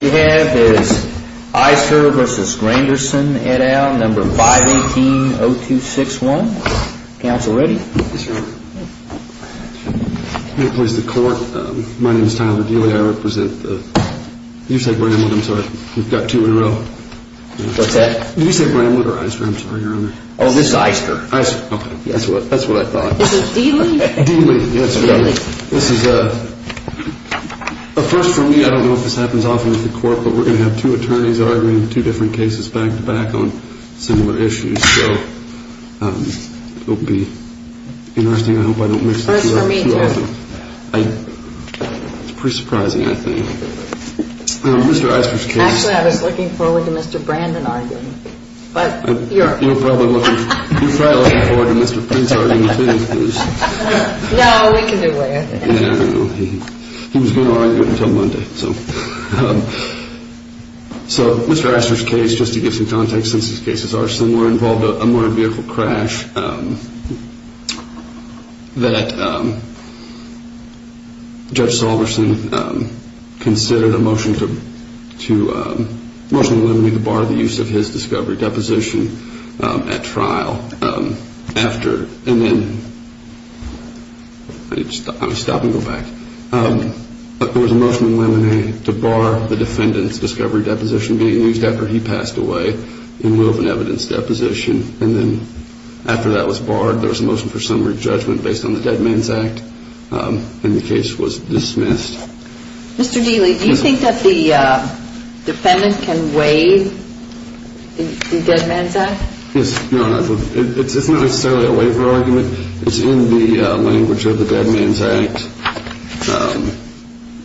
We have Ister v. Granderson et al. number 518-0261. Council ready? Yes, Your Honor. May it please the Court, my name is Tyler Dealey. I represent the... You said Bramlett, I'm sorry. You've got two in a row. What's that? Did you say Bramlett or Ister? I'm sorry, Your Honor. Oh, this is Ister. Ister, okay. That's what I thought. Is it Dealey? Dealey, yes, Your Honor. This is a first for me. I don't know if this happens often with the Court, but we're going to have two attorneys arguing two different cases back-to-back on similar issues. So it will be interesting. I hope I don't miss it too often. First for me, too. It's pretty surprising, I think. Mr. Ister's case... Actually, I was looking forward to Mr. Brandon arguing. You're probably looking forward to Mr. Prince arguing with him. No, we can do without him. He was going to argue until Monday. So Mr. Ister's case, just to give some context since his cases are similar, involved a motor vehicle crash that Judge Salverson considered a motion to limit the bar of the use of his discovery deposition at trial. And then... I need to stop and go back. There was a motion in Lamine to bar the defendant's discovery deposition being used after he passed away in lieu of an evidence deposition. And then after that was barred, there was a motion for summary judgment based on the Dead Man's Act, and the case was dismissed. Mr. Dealey, do you think that the defendant can waive the Dead Man's Act? Yes, Your Honor. It's not necessarily a waiver argument. It's in the language of the Dead Man's Act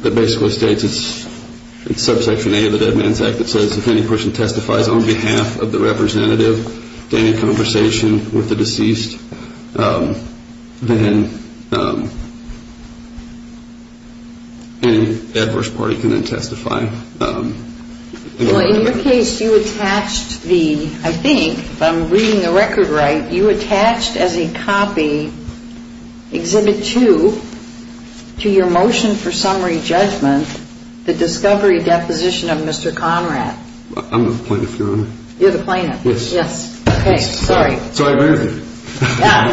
that basically states it's subsection A of the Dead Man's Act that says if any person testifies on behalf of the representative to any conversation with the deceased, then any adverse party can then testify. Well, in your case, you attached the, I think, if I'm reading the record right, you attached as a copy, Exhibit 2, to your motion for summary judgment, the discovery deposition of Mr. Conrad. I'm the plaintiff, Your Honor. You're the plaintiff. Yes. Okay, sorry. Sorry about everything. Yeah.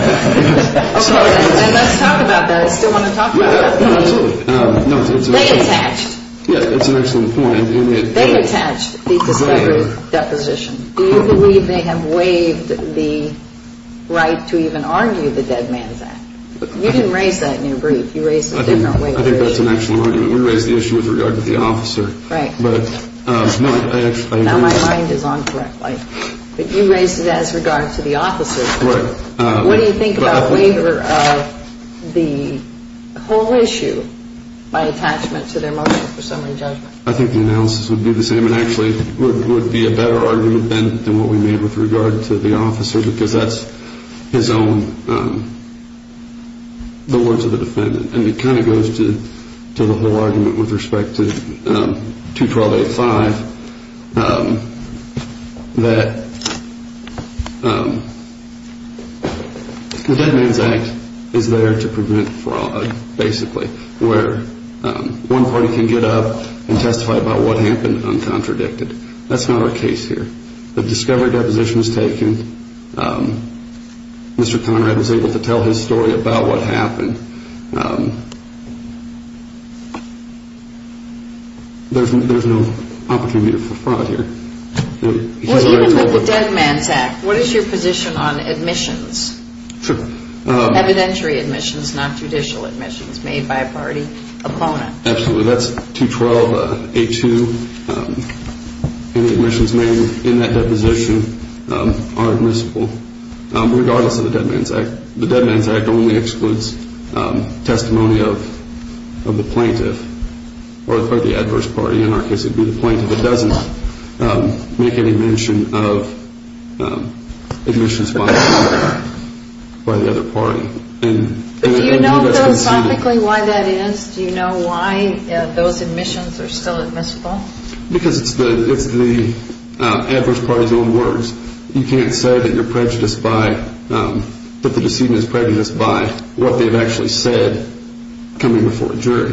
Sorry. And let's talk about that. I still want to talk about that. Yeah, absolutely. They attached. Yeah, that's an excellent point. They attached the discovery deposition. Do you believe they have waived the right to even argue the Dead Man's Act? You didn't raise that in your brief. You raised it differently. I think that's an excellent argument. We raised the issue with regard to the officer. Right. Now my mind is on the correct light. But you raised it as regard to the officer. Right. What do you think about waiver of the whole issue by attachment to their motion for summary judgment? I think the analysis would be the same. It actually would be a better argument than what we made with regard to the officer because that's his own, the words of the defendant. And it kind of goes to the whole argument with respect to 21285 that the Dead Man's Act is there to prevent fraud, basically, where one party can get up and testify about what happened uncontradicted. That's not our case here. The discovery deposition is taken. Mr. Conrad was able to tell his story about what happened. There's no opportunity for fraud here. Even with the Dead Man's Act, what is your position on admissions? Evidentiary admissions, not judicial admissions made by a party opponent. Absolutely. That's 21282. Any admissions made in that deposition are admissible regardless of the Dead Man's Act. The Dead Man's Act only excludes testimony of the plaintiff or the adverse party. In our case, it would be the plaintiff that doesn't make any mention of admissions by the other party. Do you know philosophically why that is? Do you know why those admissions are still admissible? Because it's the adverse party's own words. You can't say that the decedent is prejudiced by what they've actually said coming before a jury.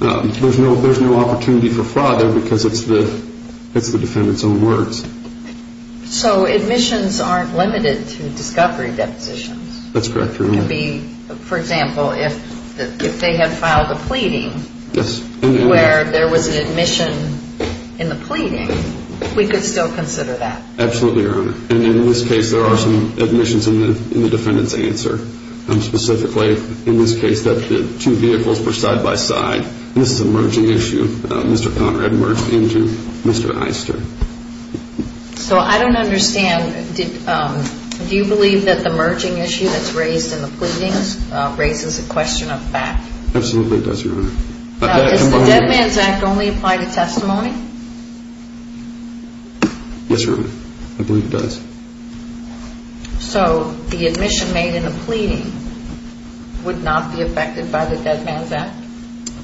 There's no opportunity for fraud there because it's the defendant's own words. So admissions aren't limited to discovery depositions? That's correct, Your Honor. For example, if they had filed a pleading where there was an admission in the pleading, we could still consider that. Absolutely, Your Honor. In this case, there are some admissions in the defendant's answer. Specifically, in this case, the two vehicles were side-by-side. This is a merging issue. Mr. Conrad merged into Mr. Eister. So I don't understand. Do you believe that the merging issue that's raised in the pleadings raises a question of fact? Absolutely, it does, Your Honor. Does the Dead Man's Act only apply to testimony? Yes, Your Honor. I believe it does. So the admission made in the pleading would not be affected by the Dead Man's Act?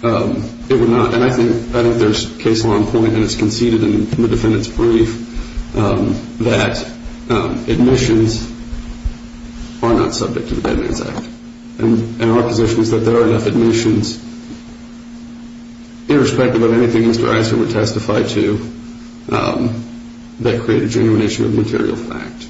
It would not. And I think there's case law in point, and it's conceded in the defendant's brief, that admissions are not subject to the Dead Man's Act. And our position is that there are enough admissions, irrespective of anything Mr. Eister would testify to, that create a genuination of material fact.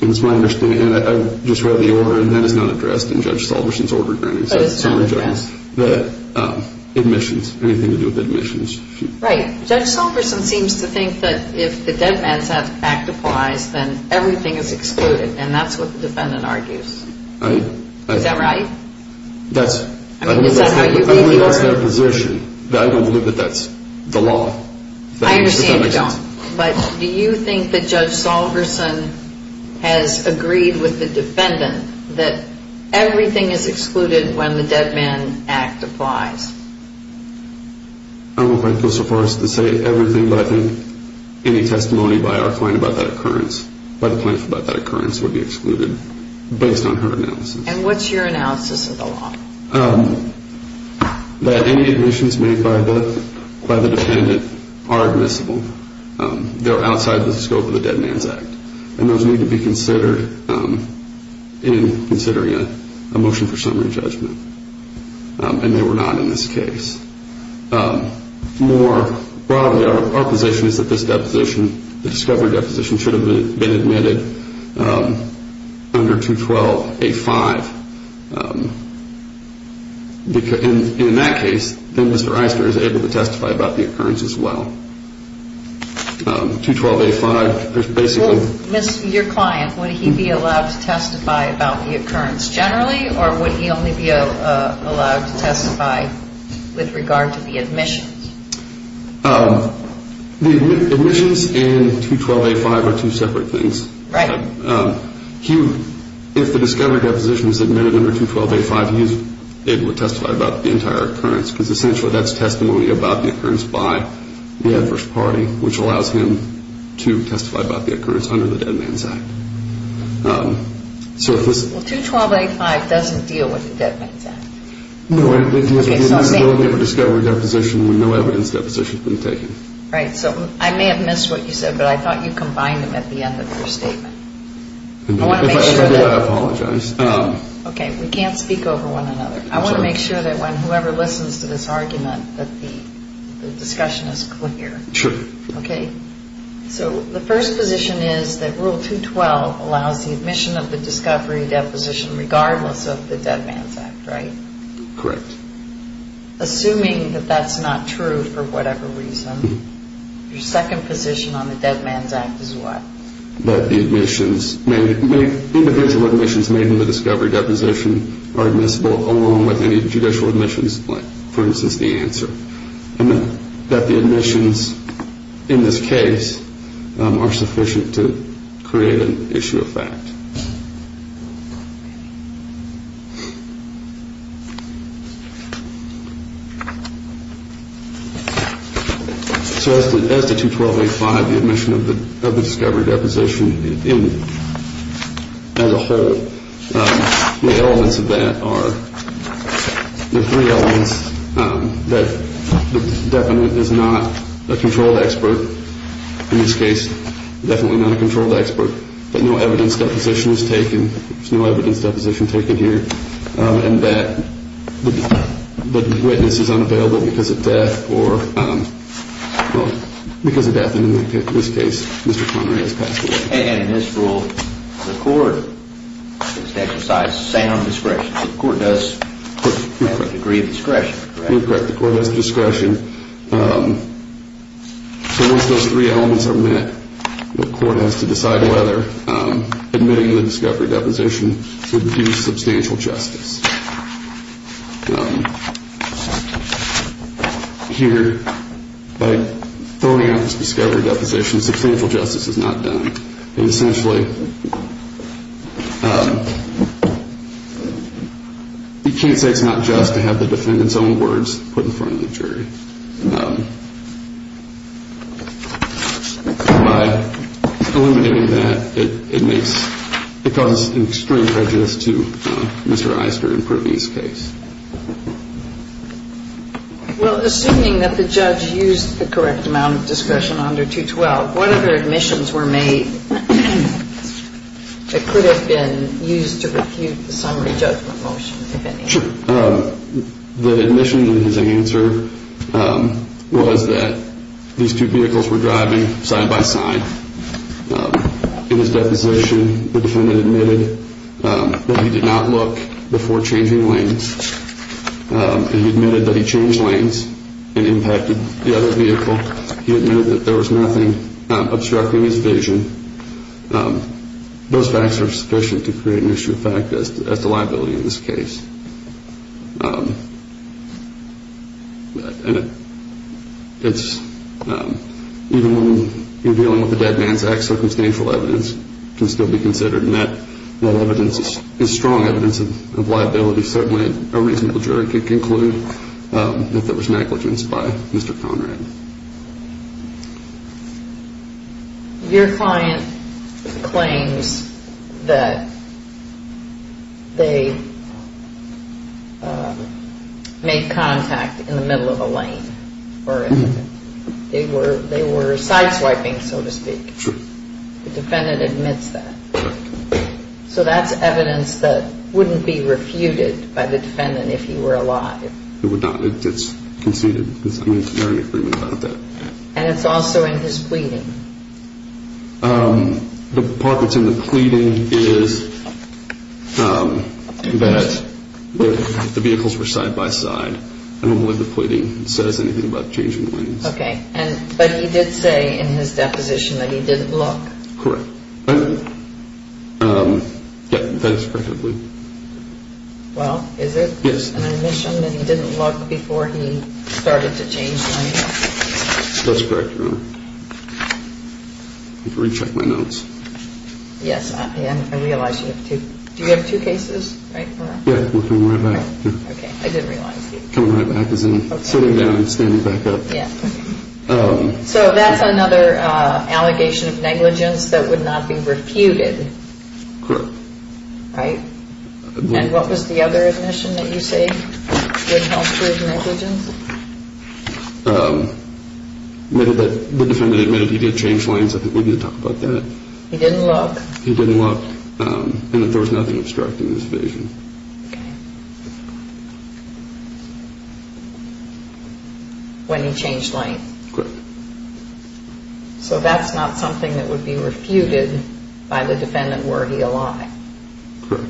And it's my understanding, and I just read the order, and that is not addressed in Judge Salverson's order, Your Honor. But it's not addressed? The admissions, anything to do with admissions. Right. Judge Salverson seems to think that if the Dead Man's Act applies, then everything is excluded, and that's what the defendant argues. I... Is that right? That's... I mean, is that how you read the order? I don't believe that's their position. I don't believe that that's the law. I understand you don't. But do you think that Judge Salverson has agreed with the defendant that everything is excluded when the Dead Man's Act applies? I'm not going to go so far as to say everything, but I think any testimony by our client about that occurrence, by the client about that occurrence, would be excluded, based on her analysis. And what's your analysis of the law? That any admissions made by the defendant are admissible. They're outside the scope of the Dead Man's Act, and those need to be considered in considering a motion for summary judgment. And they were not in this case. More broadly, our position is that this deposition, the discovery deposition, should have been admitted under 212A5. In that case, then Mr. Eister is able to testify about the occurrence as well. 212A5, there's basically... Your client, would he be allowed to testify about the occurrence generally, or would he only be allowed to testify with regard to the admissions? The admissions and 212A5 are two separate things. Right. If the discovery deposition is admitted under 212A5, he is able to testify about the entire occurrence, because essentially that's testimony about the occurrence by the adverse party, which allows him to testify about the occurrence under the Dead Man's Act. Well, 212A5 doesn't deal with the Dead Man's Act. No, it deals with the disability of a discovery deposition when no evidence deposition has been taken. Right. So I may have missed what you said, but I thought you combined them at the end of your statement. If I did, I apologize. Okay. We can't speak over one another. I want to make sure that when whoever listens to this argument that the discussion is clear. Sure. Okay. So the first position is that Rule 212 allows the admission of the discovery deposition regardless of the Dead Man's Act, right? Correct. Assuming that that's not true for whatever reason, your second position on the Dead Man's Act is what? That the admissions, individual admissions made in the discovery deposition are admissible along with any judicial admissions, for instance, the answer. And that the admissions in this case are sufficient to create an issue of fact. So as to 212A5, the admission of the discovery deposition as a whole, the elements of that are the three elements that the defendant is not a controlled expert, in this case, definitely not a controlled expert, but no evidence deposition is taken. There's no evidence deposition taken here. And that the witness is unavailable because of death or, well, because of death, and in this case, Mr. Connery has passed away. And in this rule, the court is to exercise sound discretion. The court does have a degree of discretion, correct? Correct. The court has discretion. So once those three elements are met, the court has to decide whether admitting the discovery deposition would do substantial justice. Here, by throwing out this discovery deposition, substantial justice is not done. And essentially, you can't say it's not just to have the defendant's own words put in front of the jury. By eliminating that, it makes the cause extreme prejudice to Mr. Eister and Privy's case. Well, assuming that the judge used the correct amount of discretion under 212, what other admissions were made that could have been used to refute the summary judgment motion, if any? Sure. The admission in his answer was that these two vehicles were driving side by side. In his deposition, the defendant admitted that he did not look before changing lanes. He admitted that he changed lanes and impacted the other vehicle. He admitted that there was nothing obstructing his vision. Those facts are sufficient to create an issue of fact as to liability in this case. Even when you're dealing with a dead man's act, circumstantial evidence can still be considered, and that evidence is strong evidence of liability. Certainly, a reasonable jury could conclude that there was negligence by Mr. Conrad. Your client claims that they made contact in the middle of a lane, or they were sideswiping, so to speak. True. The defendant admits that. Correct. So that's evidence that wouldn't be refuted by the defendant if he were alive. It's conceded. There's no agreement about that. And it's also in his pleading. The part that's in the pleading is that the vehicles were side by side. I don't believe the pleading says anything about changing lanes. Okay. But he did say in his deposition that he didn't look. Correct. That is correct, I believe. Well, is it? Yes. So he made an admission that he didn't look before he started to change lanes? That's correct, Your Honor. Let me recheck my notes. Yes, I realize you have two. Do you have two cases? Right? Yeah, we're coming right back. Okay, I didn't realize. Coming right back as in sitting down and standing back up. Yeah. So that's another allegation of negligence that would not be refuted. Correct. Right? And what was the other admission that you say wouldn't help prove negligence? The defendant admitted he did change lanes. I think we need to talk about that. He didn't look. He didn't look. And that there was nothing obstructing his vision. Okay. When he changed lanes. Correct. So that's not something that would be refuted by the defendant were he a liar. Correct.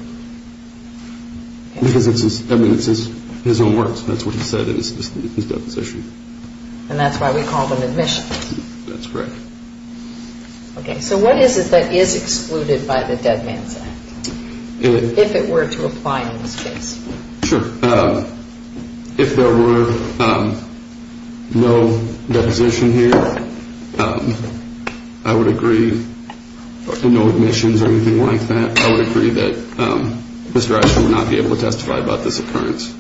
Because it's his own words. That's what he said in his deposition. And that's why we call them admissions. That's correct. Okay, so what is it that is excluded by the Dead Man's Act? If it were to apply in this case. Sure. If there were no deposition here, I would agree. No admissions or anything like that. I would agree that Mr. Asher would not be able to testify about this occurrence.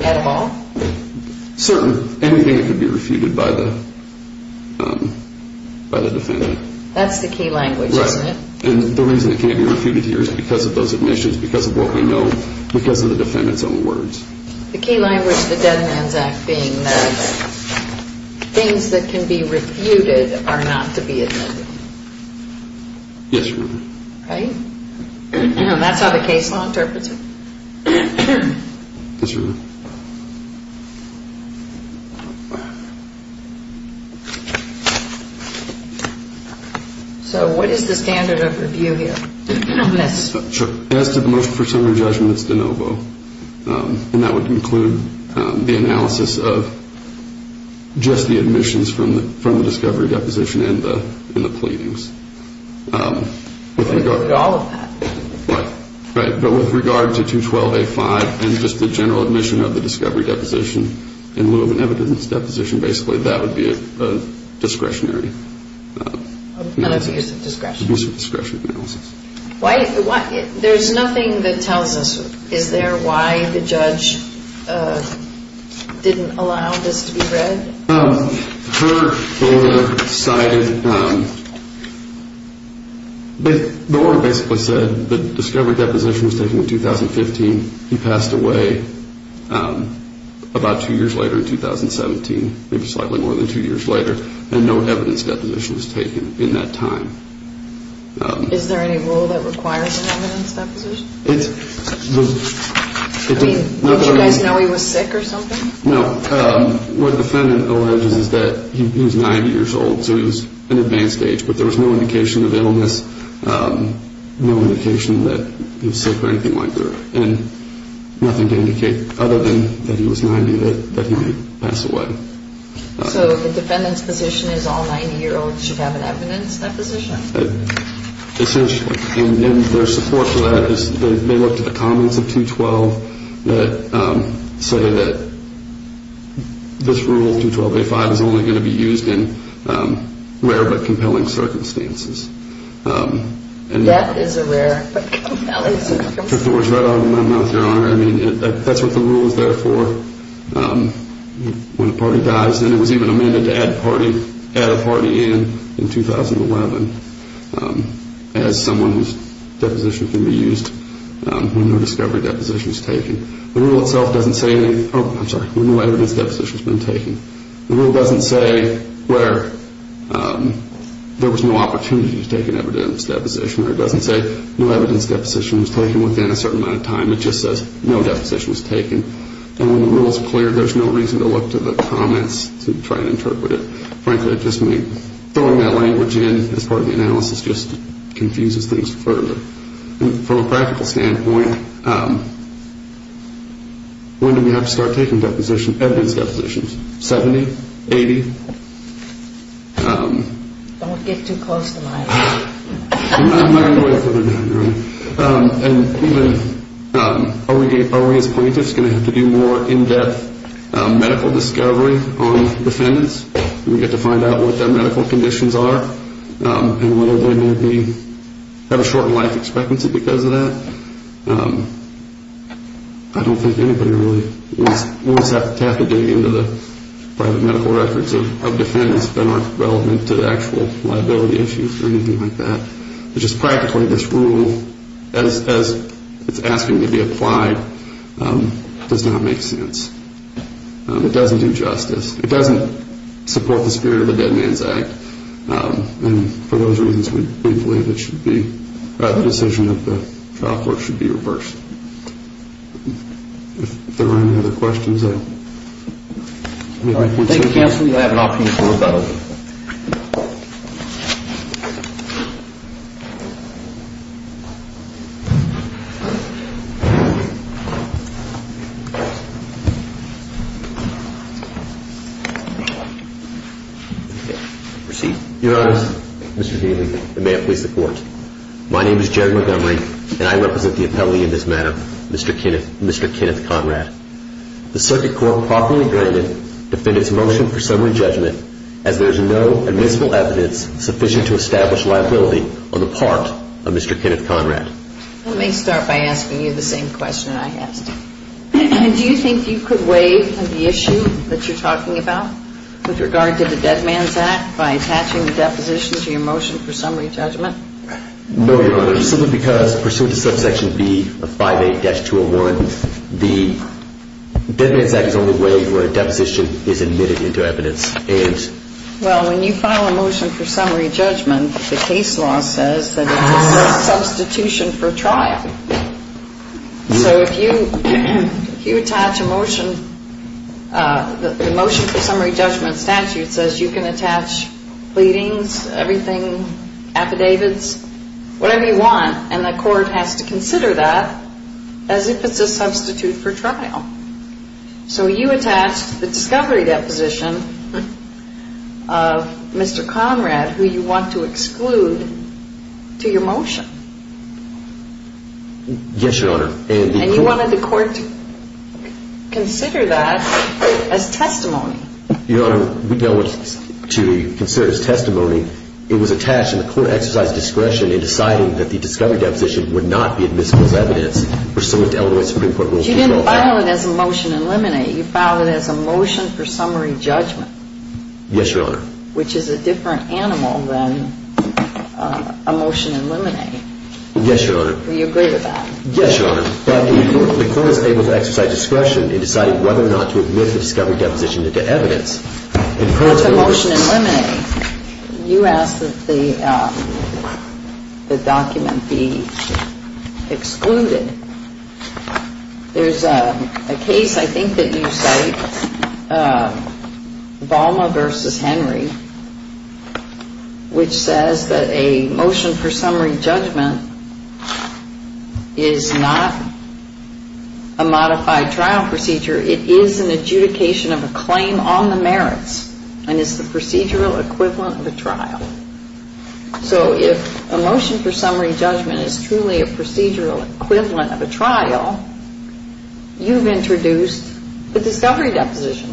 At all? Certainly. Anything that could be refuted by the defendant. That's the key language, isn't it? Right. And the reason it can't be refuted here is because of those admissions, because of what we know, because of the defendant's own words. The key language of the Dead Man's Act being that things that can be refuted are not to be admitted. Yes, Your Honor. Right? That's how the case law interprets it. Yes, Your Honor. So what is the standard of review here on this? As to the motion for summary judgment, it's de novo. And that would include the analysis of just the admissions from the discovery deposition and the pleadings. All of that. Right. But with regard to 212A5 and just the general admission of the discovery deposition in lieu of an evidence deposition, basically, that would be a discretionary analysis. An abuse of discretion. Abuse of discretion analysis. There's nothing that tells us, is there, why the judge didn't allow this to be read? The order basically said the discovery deposition was taken in 2015. He passed away about two years later in 2017, maybe slightly more than two years later, and no evidence deposition was taken in that time. Is there any rule that requires an evidence deposition? I mean, don't you guys know he was sick or something? No. What the defendant alleges is that he was 90 years old, so he was in advanced age, but there was no indication of illness, no indication that he was sick or anything like that, and nothing to indicate other than that he was 90, that he might pass away. So the defendant's position is all 90-year-olds should have an evidence deposition? Essentially. And their support for that is they look to the comments of 212 that say that this rule, 212A5, is only going to be used in rare but compelling circumstances. That is a rare but compelling circumstance. I mean, that's what the rule is there for. When a party dies, and it was even amended to add a party in in 2011 as someone whose deposition can be used when no discovery deposition is taken. The rule itself doesn't say anything, oh, I'm sorry, when no evidence deposition has been taken. The rule doesn't say where there was no opportunity to take an evidence deposition, or it doesn't say no evidence deposition was taken within a certain amount of time. It just says no deposition was taken. And when the rule is clear, there's no reason to look to the comments to try and interpret it. Frankly, just throwing that language in as part of the analysis just confuses things further. From a practical standpoint, when do we have to start taking deposition, evidence depositions? 70? 80? Don't get too close to the mic. I'm not going to go any further than that. And even are we as plaintiffs going to have to do more in-depth medical discovery on defendants? Do we get to find out what their medical conditions are and whether they may have a shortened life expectancy because of that? I don't think anybody really wants to have to tap a day into the private medical records of defendants that aren't relevant to the actual liability issues or anything like that. Just practically, this rule, as it's asking to be applied, does not make sense. It doesn't do justice. It doesn't support the spirit of the Dead Man's Act. And for those reasons, we believe it should be, the decision of the trial court should be reversed. If there aren't any other questions, I'll make my point. All right. Thank you, counsel. You have an option for rebuttal. Thank you. Proceed. Your Honor, Mr. Daly, and may it please the Court. My name is Jared Montgomery, and I represent the appellee in this matter, Mr. Kenneth Conrad. The circuit court properly granted defendant's motion for summary judgment as there is no admissible evidence sufficient to establish liability on the part of Mr. Kenneth Conrad. Let me start by asking you the same question I asked. Do you think you could waive the issue that you're talking about with regard to the Dead Man's Act by attaching the deposition to your motion for summary judgment? No, Your Honor. Simply because pursuant to subsection B of 5A-201, the Dead Man's Act is the only way where a deposition is admitted into evidence. Well, when you file a motion for summary judgment, the case law says that it's a substitution for trial. So if you attach a motion, the motion for summary judgment statute says you can attach pleadings, everything, affidavits, whatever you want, and the court has to consider that as if it's a substitute for trial. So you attached the discovery deposition of Mr. Conrad, who you want to exclude, to your motion. Yes, Your Honor. And you wanted the court to consider that as testimony. Your Honor, we don't want to consider it as testimony. It was attached and the court exercised discretion in deciding that the discovery deposition would not be admissible as evidence pursuant to Illinois Supreme Court Rules 12-5. But you didn't file it as a motion to eliminate. You filed it as a motion for summary judgment. Yes, Your Honor. Which is a different animal than a motion to eliminate. Yes, Your Honor. Do you agree with that? Yes, Your Honor. But the court was able to exercise discretion in deciding whether or not to admit the discovery deposition into evidence. If it's a motion to eliminate, you ask that the document be excluded. There's a case I think that you cite, Volma v. Henry, which says that a motion for summary judgment is not a modified trial procedure. It is an adjudication of a claim on the merits. And it's the procedural equivalent of a trial. So if a motion for summary judgment is truly a procedural equivalent of a trial, you've introduced the discovery deposition,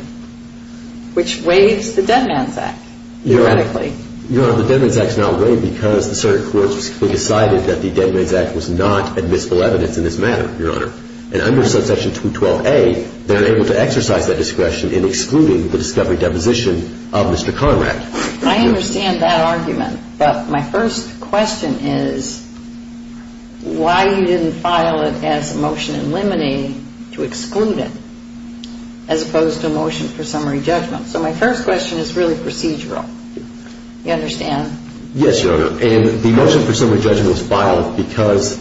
which waives the Dead Man's Act, theoretically. Your Honor, the Dead Man's Act is not waived because the circuit court has decided that the Dead Man's Act was not admissible evidence in this matter, Your Honor. And under subsection 212A, they're able to exercise that discretion in excluding the discovery deposition of Mr. Conrad. I understand that argument. But my first question is why you didn't file it as a motion to eliminate to exclude it as opposed to a motion for summary judgment. So my first question is really procedural. Do you understand? Yes, Your Honor. And the motion for summary judgment was filed because,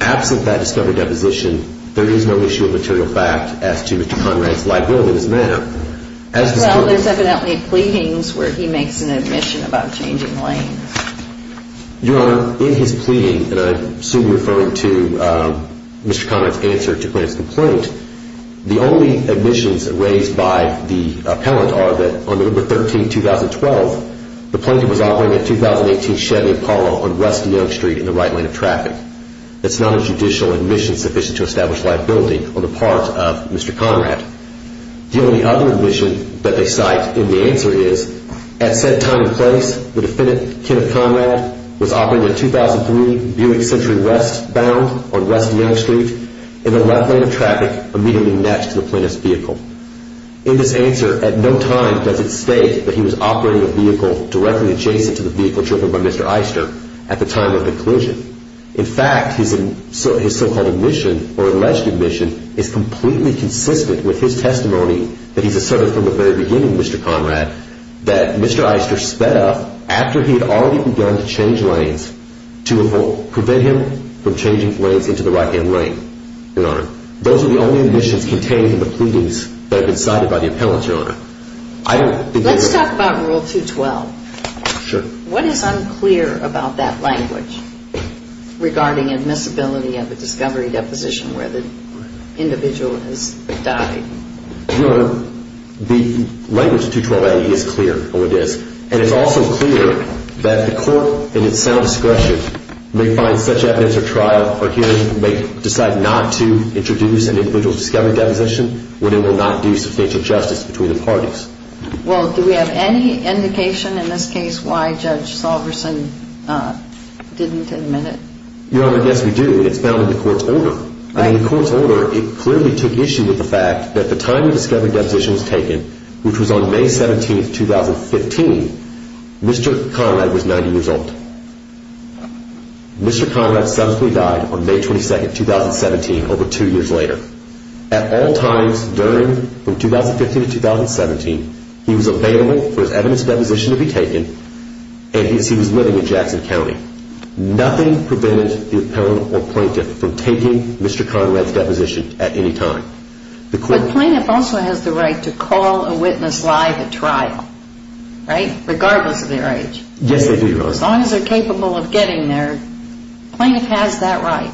absent that discovery deposition, there is no issue of material fact as to Mr. Conrad's liability in this matter. Well, there's evidently pleadings where he makes an admission about changing lanes. Your Honor, in his pleading, and I assume you're referring to Mr. Conrad's answer to Plaintiff's complaint, the only admissions raised by the appellant are that on November 13, 2012, the plaintiff was operating a 2018 Chevy Apollo on West Young Street in the right lane of traffic. That's not a judicial admission sufficient to establish liability on the part of Mr. Conrad. The only other admission that they cite in the answer is, at said time and place, the defendant, Kenneth Conrad, was operating a 2003 Buick Century Westbound on West Young Street in the left lane of traffic, immediately next to the plaintiff's vehicle. In this answer, at no time does it state that he was operating a vehicle directly adjacent to the vehicle driven by Mr. Eister at the time of the collision. In fact, his so-called admission or alleged admission is completely consistent with his testimony that he's asserted from the very beginning, Mr. Conrad, that Mr. Eister sped up after he had already begun to change lanes to prevent him from changing lanes into the right-hand lane, Your Honor. Those are the only admissions contained in the pleadings that have been cited by the appellant, Your Honor. Let's talk about Rule 212. Sure. What is unclear about that language regarding admissibility of a discovery deposition where the individual has died? Your Honor, the language in 212a is clear. Oh, it is. And it's also clear that the court in its sound discretion may find such evidence or trial or hearing may decide not to introduce an individual's discovery deposition when it will not do substantial justice between the parties. Well, do we have any indication in this case why Judge Salverson didn't admit it? Your Honor, yes, we do. It's found in the court's order. Right. In the court's order, it clearly took issue with the fact that the time the discovery deposition was taken, which was on May 17, 2015, Mr. Conrad was 90 years old. Mr. Conrad subsequently died on May 22, 2017, over two years later. At all times during from 2015 to 2017, he was available for his evidence deposition to be taken and he was living in Jackson County. Nothing prevented the appellant or plaintiff from taking Mr. Conrad's deposition at any time. But plaintiff also has the right to call a witness live at trial, right, regardless of their age. Yes, they do, Your Honor. As long as they're capable of getting there, plaintiff has that right.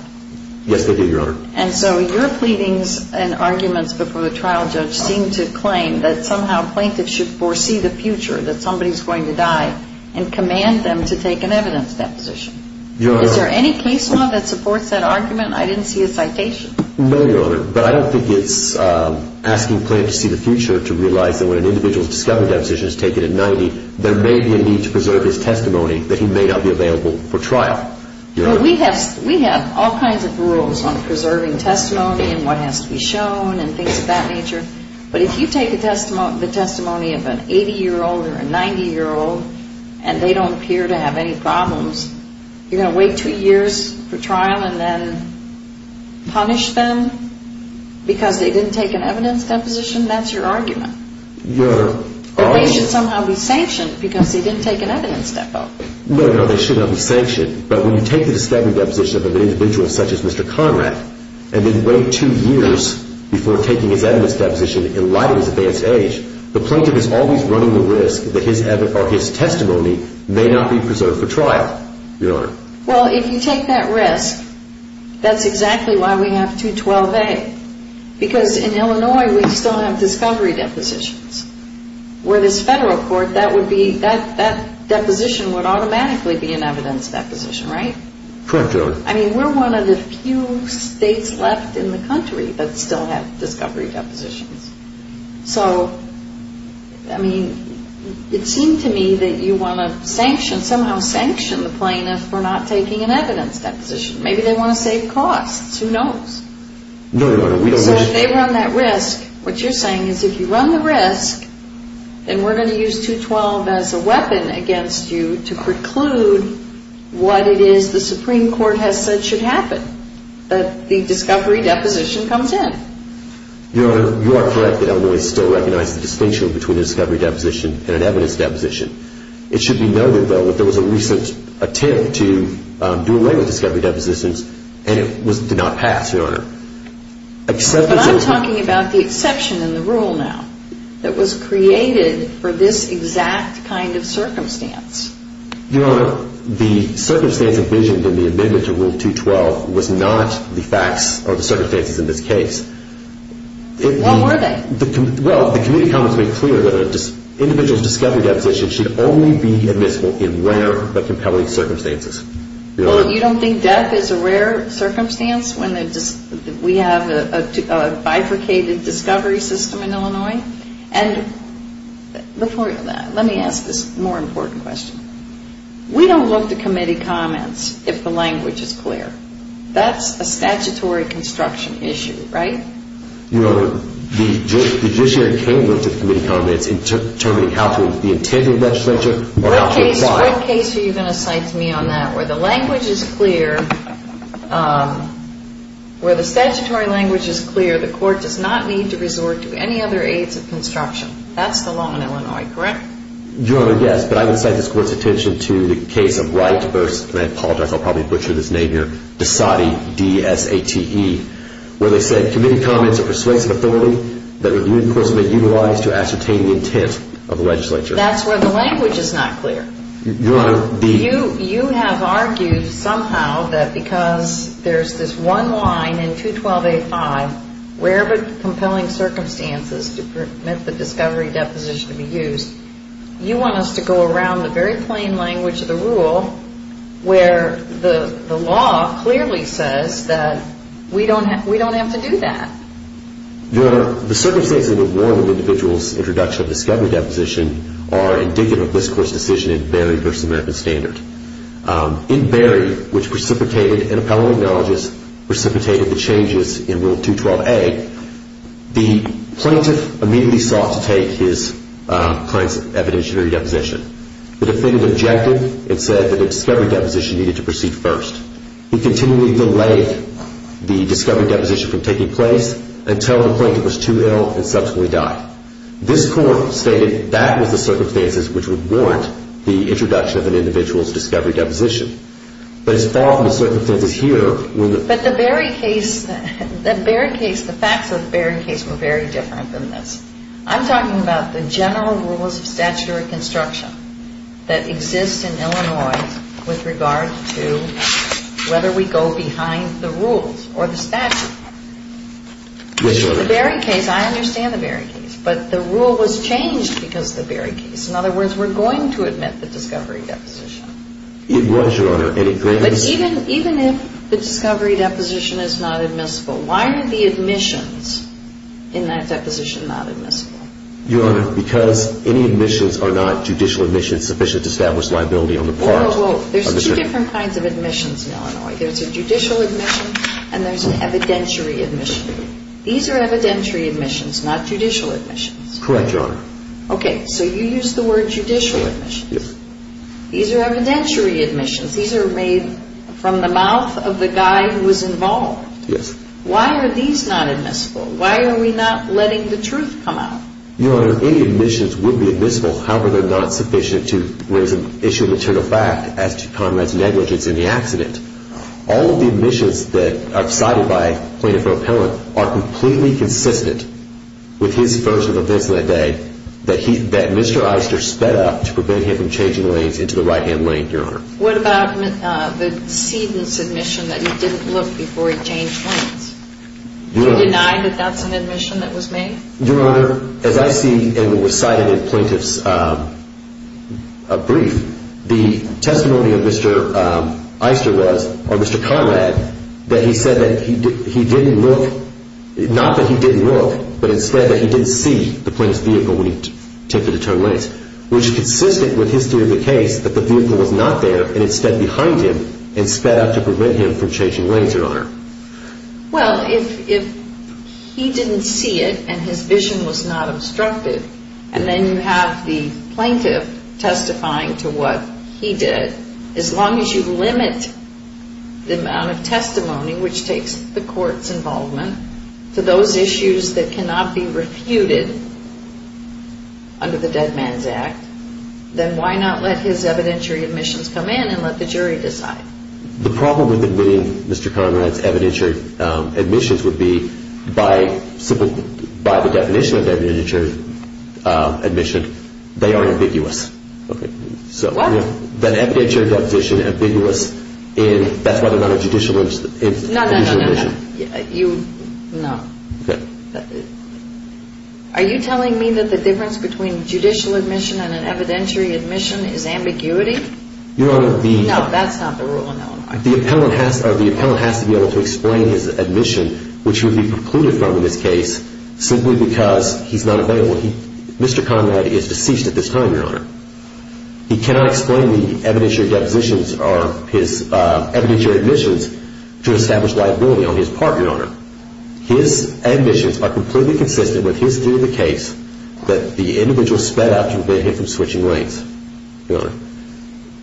Yes, they do, Your Honor. And so your pleadings and arguments before the trial judge seem to claim that somehow that somebody's going to die and command them to take an evidence deposition. Is there any case law that supports that argument? I didn't see a citation. No, Your Honor, but I don't think it's asking plaintiff to see the future to realize that when an individual's discovery deposition is taken at 90, there may be a need to preserve his testimony that he may not be available for trial. But we have all kinds of rules on preserving testimony and what has to be shown and things of that nature. But if you take the testimony of an 80-year-old or a 90-year-old and they don't appear to have any problems, you're going to wait two years for trial and then punish them because they didn't take an evidence deposition? That's your argument. Your Honor. Or they should somehow be sanctioned because they didn't take an evidence deposition. No, no, they should not be sanctioned. But when you take the discovery deposition of an individual such as Mr. Conrad and then wait two years before taking his evidence deposition in light of his advanced age, the plaintiff is always running the risk that his testimony may not be preserved for trial. Your Honor. Well, if you take that risk, that's exactly why we have 212A because in Illinois we still have discovery depositions. Where this federal court, that deposition would automatically be an evidence deposition, right? Correct, Your Honor. I mean, we're one of the few states left in the country that still have discovery depositions. So, I mean, it seemed to me that you want to somehow sanction the plaintiff for not taking an evidence deposition. Maybe they want to save costs. Who knows? No, Your Honor. So if they run that risk, what you're saying is if you run the risk, then we're going to use 212 as a weapon against you to preclude what it is the Supreme Court has said should happen, that the discovery deposition comes in. Your Honor, you are correct that Illinois still recognizes the distinction between a discovery deposition and an evidence deposition. It should be noted, though, that there was a recent attempt to do away with discovery depositions and it did not pass, Your Honor. But I'm talking about the exception in the rule now that was created for this exact kind of circumstance. Your Honor, the circumstance envisioned in the amendment to Rule 212 was not the facts or the circumstances in this case. What were they? Well, the committee comments made clear that an individual's discovery deposition should only be admissible in rare but compelling circumstances. Well, you don't think death is a rare circumstance when we have a bifurcated discovery system in Illinois? And before that, let me ask this more important question. We don't look to committee comments if the language is clear. That's a statutory construction issue, right? Your Honor, the judiciary can look to the committee comments What case are you going to cite to me on that where the language is clear, where the statutory language is clear, the court does not need to resort to any other aids of construction? That's the law in Illinois, correct? Your Honor, yes, but I would cite this Court's attention to the case of Wright v. and I apologize, I'll probably butcher this name here, DeSatte, D-S-A-T-T-E, where they said, Committee comments are persuasive authority that would universally be utilized to ascertain the intent of the legislature. That's where the language is not clear. Your Honor, the... You have argued somehow that because there's this one line in 212A5, rare but compelling circumstances to permit the discovery deposition to be used, you want us to go around the very plain language of the rule where the law clearly says that we don't have to do that. Your Honor, the circumstances that warrant an individual's introduction of discovery deposition are indicative of this Court's decision in Berry v. American Standard. In Berry, which precipitated, an appellate neurologist precipitated the changes in Rule 212A, the plaintiff immediately sought to take his client's evidentiary deposition. The defendant objected and said that a discovery deposition needed to proceed first. He continually delayed the discovery deposition from taking place until the plaintiff was too ill and subsequently died. This Court stated that was the circumstances which would warrant the introduction of an individual's discovery deposition. But as far as the circumstances here... But the Berry case, the facts of the Berry case were very different than this. I'm talking about the general rules of statutory construction that exist in Illinois with regard to whether we go behind the rules or the statute. Yes, Your Honor. The Berry case, I understand the Berry case. But the rule was changed because of the Berry case. In other words, we're going to admit the discovery deposition. It was, Your Honor, and it grants... But even if the discovery deposition is not admissible, why are the admissions in that deposition not admissible? Your Honor, because any admissions are not judicial admissions sufficient to establish liability on the part... Well, there's two different kinds of admissions in Illinois. There's a judicial admission and there's an evidentiary admission. These are evidentiary admissions, not judicial admissions. Correct, Your Honor. Okay, so you used the word judicial admissions. Yes. These are evidentiary admissions. These are made from the mouth of the guy who was involved. Yes. Why are these not admissible? Why are we not letting the truth come out? Your Honor, any admissions would be admissible, however, they're not sufficient to raise an issue of internal fact as to Congress' negligence in the accident. All of the admissions that are cited by plaintiff or appellant are completely consistent with his version of events of that day that Mr. Eister sped up to prevent him from changing lanes into the right-hand lane, Your Honor. What about the Seedon's admission that he didn't look before he changed lanes? Do you deny that that's an admission that was made? Your Honor, as I see in the recited plaintiff's brief, the testimony of Mr. Eister was, or Mr. Conrad, that he said that he didn't look, not that he didn't look, but instead that he didn't see the plaintiff's vehicle when he attempted to turn lanes, which is consistent with his theory of the case that the vehicle was not there and instead behind him and sped up to prevent him from changing lanes, Your Honor. Well, if he didn't see it and his vision was not obstructed and then you have the plaintiff testifying to what he did, as long as you limit the amount of testimony, which takes the court's involvement, to those issues that cannot be refuted under the Dead Man's Act, then why not let his evidentiary admissions come in and let the jury decide? The problem with Mr. Conrad's evidentiary admissions would be that by the definition of evidentiary admission, they are ambiguous. What? The evidentiary deposition is ambiguous, and that's why there's not a judicial admission. No, no, no. Are you telling me that the difference between judicial admission and an evidentiary admission is ambiguity? Your Honor, the... No, that's not the rule in Illinois. The appellant has to be able to explain his admission, which would be precluded from in this case, simply because he's not available. Mr. Conrad is deceased at this time, Your Honor. He cannot explain the evidentiary depositions or his evidentiary admissions to establish liability on his part, Your Honor. His admissions are completely consistent with his view of the case that the individual sped up to prevent him from switching lanes, Your Honor.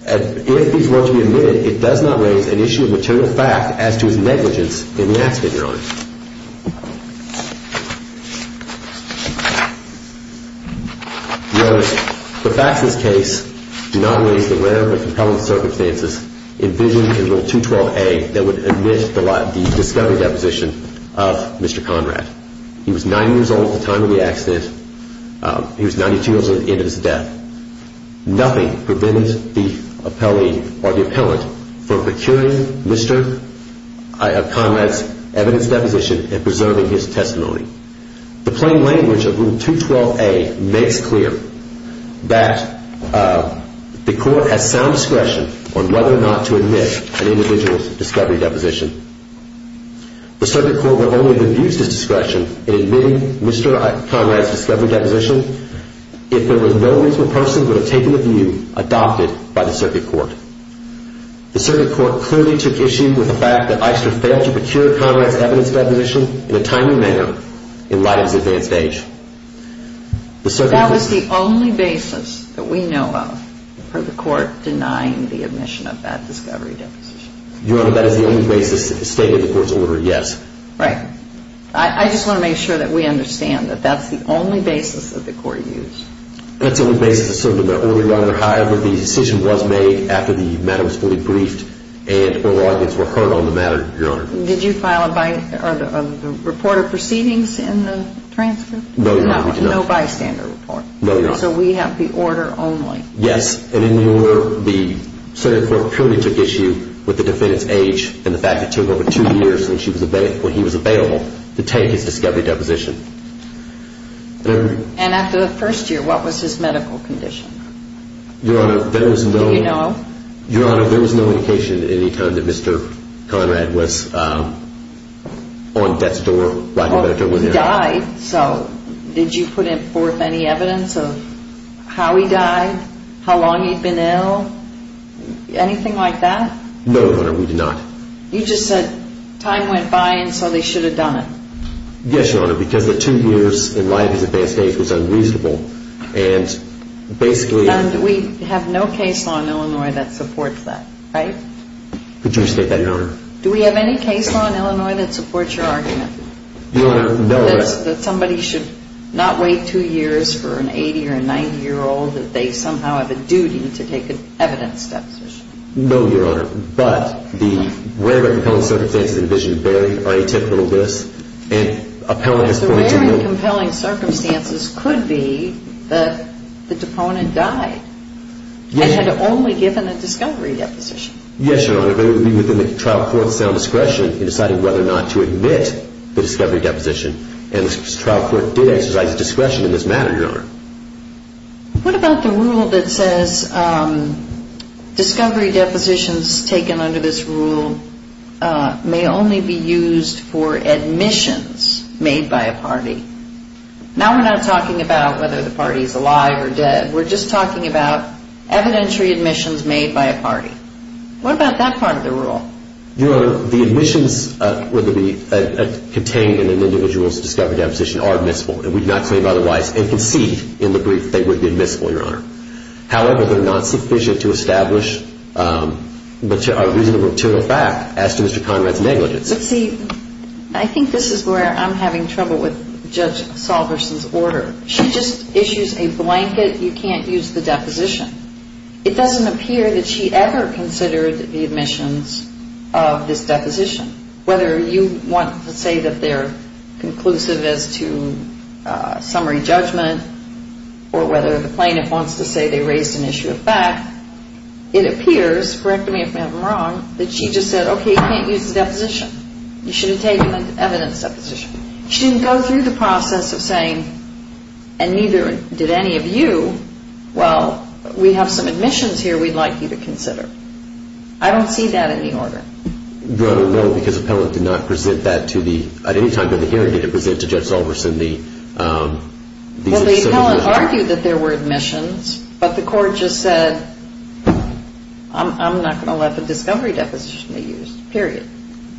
If these were to be admitted, it does not raise an issue of maternal fact as to his negligence in the accident, Your Honor. Your Honor, the facts of this case do not raise the rare and compelling circumstances envisioned in Rule 212A that would admit the discovery deposition of Mr. Conrad. He was 9 years old at the time of the accident. He was 92 years old at the end of his death. Nothing prevented the appellee or the appellant from procuring Mr. Conrad's evidence deposition and preserving his testimony. The plain language of Rule 212A makes clear that the court has sound discretion on whether or not to admit an individual's discovery deposition. The circuit court will only abuse this discretion in admitting Mr. Conrad's discovery deposition if there was no reasonable person who would have taken the view adopted by the circuit court. The circuit court clearly took issue with the fact that Eister failed to procure Conrad's evidence deposition in a timely manner in light of his advanced age. That was the only basis that we know of for the court denying the admission of that discovery deposition. Your Honor, that is the only basis that stated the court's order, yes. Right. I just want to make sure that we understand that that's the only basis that the court used. That's the only basis that stated the order, Your Honor. However, the decision was made after the matter was fully briefed and oral arguments were heard on the matter, Your Honor. Did you file a report of proceedings in the transcript? No, Your Honor, we did not. No bystander report? No, Your Honor. So we have the order only? Yes, and in the order, the circuit court clearly took issue with the defendant's age and the fact that it took over two years when he was available to take his discovery deposition. And after the first year, what was his medical condition? Your Honor, there was no indication at any time that Mr. Conrad was on death's door. Well, he died, so did you put forth any evidence of how he died, how long he'd been ill, anything like that? No, Your Honor, we did not. You just said time went by and so they should have done it? Yes, Your Honor, because the two years in life as advanced age was unreasonable and basically— And we have no case law in Illinois that supports that, right? Could you restate that, Your Honor? Do we have any case law in Illinois that supports your argument? Your Honor, no. That somebody should not wait two years for an 80- or a 90-year-old, that they somehow have a duty to take an evidence deposition? No, Your Honor. But the rare and compelling circumstances envisioned vary on a typical list and— The rare and compelling circumstances could be that the deponent died and had only given a discovery deposition. Yes, Your Honor, but it would be within the trial court's sound discretion in deciding whether or not to admit the discovery deposition, and the trial court did exercise discretion in this matter, Your Honor. What about the rule that says discovery depositions taken under this rule may only be used for admissions made by a party? Now we're not talking about whether the party is alive or dead. We're just talking about evidentiary admissions made by a party. What about that part of the rule? Your Honor, the admissions contained in an individual's discovery deposition are admissible. We do not claim otherwise and concede in the brief they would be admissible, Your Honor. However, they're not sufficient to establish a reasonable material fact as to Mr. Conrad's negligence. But see, I think this is where I'm having trouble with Judge Salverson's order. She just issues a blanket. You can't use the deposition. It doesn't appear that she ever considered the admissions of this deposition, whether you want to say that they're conclusive as to summary judgment or whether the plaintiff wants to say they raise an issue of fact. It appears, correct me if I'm wrong, that she just said, okay, you can't use the deposition. You shouldn't take an evidence deposition. She didn't go through the process of saying, and neither did any of you, well, we have some admissions here we'd like you to consider. I don't see that in the order. Your Honor, no, because the appellant did not present that to the, at any time during the hearing did it present to Judge Salverson the... Well, the appellant argued that there were admissions, but the court just said, I'm not going to let the discovery deposition be used, period.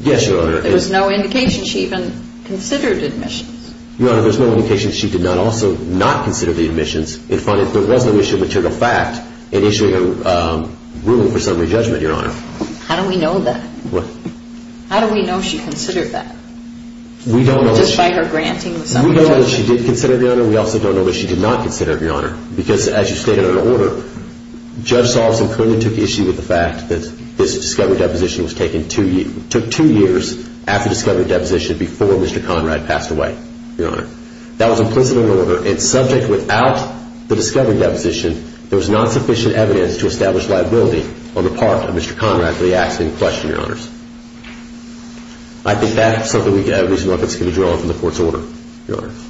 Yes, Your Honor. There was no indication she even considered admissions. Your Honor, there's no indication she did not also not consider the admissions and find that there was no issue of material fact in issuing a ruling for summary judgment, Your Honor. How do we know that? What? How do we know she considered that? We don't know. Just by her granting the summary judgment. We know that she did consider it, Your Honor. We also don't know that she did not consider it, Your Honor, because as you stated in the order, Judge Salverson currently took issue with the fact that this discovery deposition took two years after discovery deposition before Mr. Conrad passed away, Your Honor. That was implicit in the order, and subject without the discovery deposition, there was not sufficient evidence to establish liability on the part of Mr. Conrad for the accident in question, Your Honors. I think that's something we can have reasonable evidence to be drawn from the court's order, Your Honors.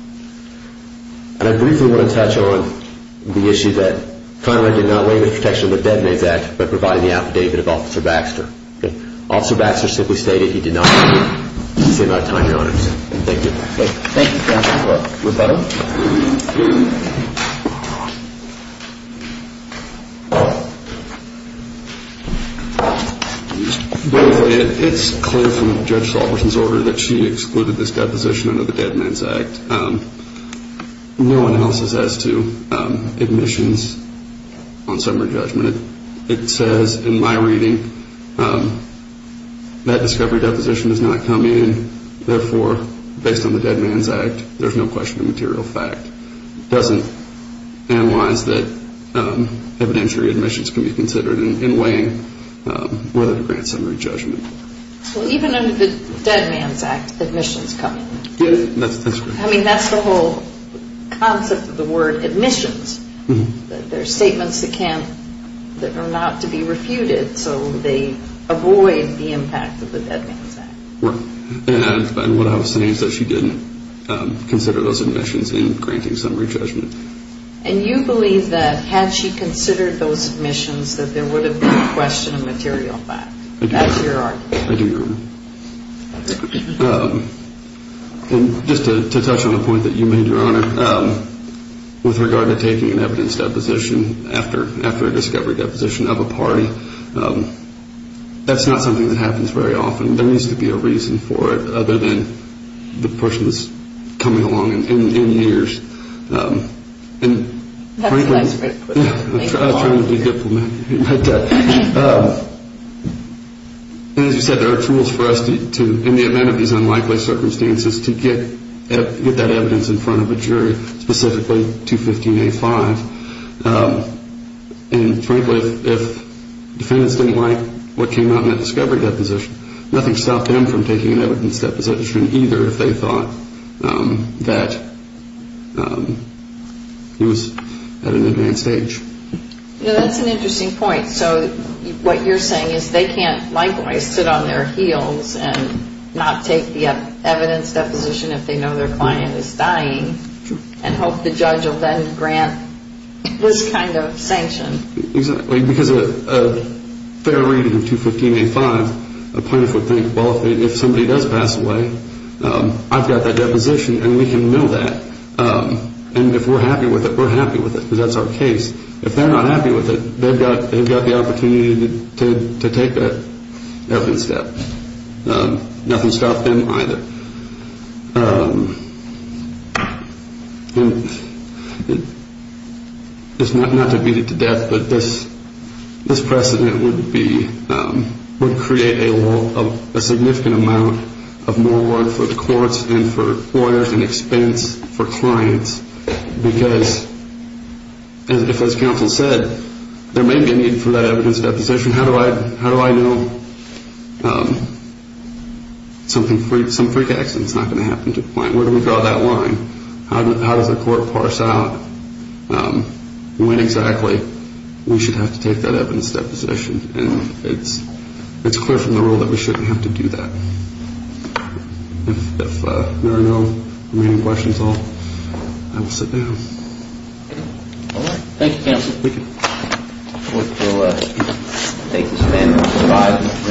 And I briefly want to touch on the issue that Conrad did not lay the protection of the dead maid's act by providing the affidavit of Officer Baxter. Officer Baxter simply stated he did not do it. He just came out of time, Your Honors. Thank you. Thank you, counsel. Rebuttal. It's clear from Judge Salverson's order that she excluded this deposition under the dead man's act. No analysis as to admissions on summary judgment. It says in my reading that discovery deposition does not come in, therefore, based on the dead man's act, there's no question of material fact. It doesn't analyze that evidentiary admissions can be considered in weighing whether to grant summary judgment. Well, even under the dead man's act, admissions come in. Yes, that's correct. I mean, that's the whole concept of the word admissions, that they're statements that are not to be refuted, so they avoid the impact of the dead man's act. And what I was saying is that she didn't consider those admissions in granting summary judgment. And you believe that had she considered those admissions, that there would have been a question of material fact. That's your argument. I do agree. Just to touch on a point that you made, Your Honor, with regard to taking an evidence deposition after a discovery deposition of a party, that's not something that happens very often. There needs to be a reason for it other than the person who's coming along in years. That's a nice way to put it. I was trying to be diplomatic. And as you said, there are tools for us, in the event of these unlikely circumstances, to get that evidence in front of a jury, specifically 215A5. And frankly, if defendants didn't like what came out in that discovery deposition, nothing stopped them from taking an evidence deposition either, if they thought that he was at an advanced age. That's an interesting point. So what you're saying is they can't likewise sit on their heels and not take the evidence deposition if they know their client is dying and hope the judge will then grant this kind of sanction. Exactly. Because a fair reading of 215A5, a plaintiff would think, well, if somebody does pass away, I've got that deposition and we can know that. And if we're happy with it, we're happy with it because that's our case. If they're not happy with it, they've got the opportunity to take that evidence step. Nothing stopped them either. And not to beat it to death, but this precedent would create a significant amount of more work for the courts and for lawyers and expense for clients because, as counsel said, there may be a need for that evidence deposition. How do I know some freak accident is not going to happen to the client? Where do we draw that line? How does the court parse out when exactly we should have to take that evidence deposition? And it's clear from the rule that we shouldn't have to do that. If there are no remaining questions, I will sit down. All right. Thank you, counsel. Thank you. I look forward to taking this panel.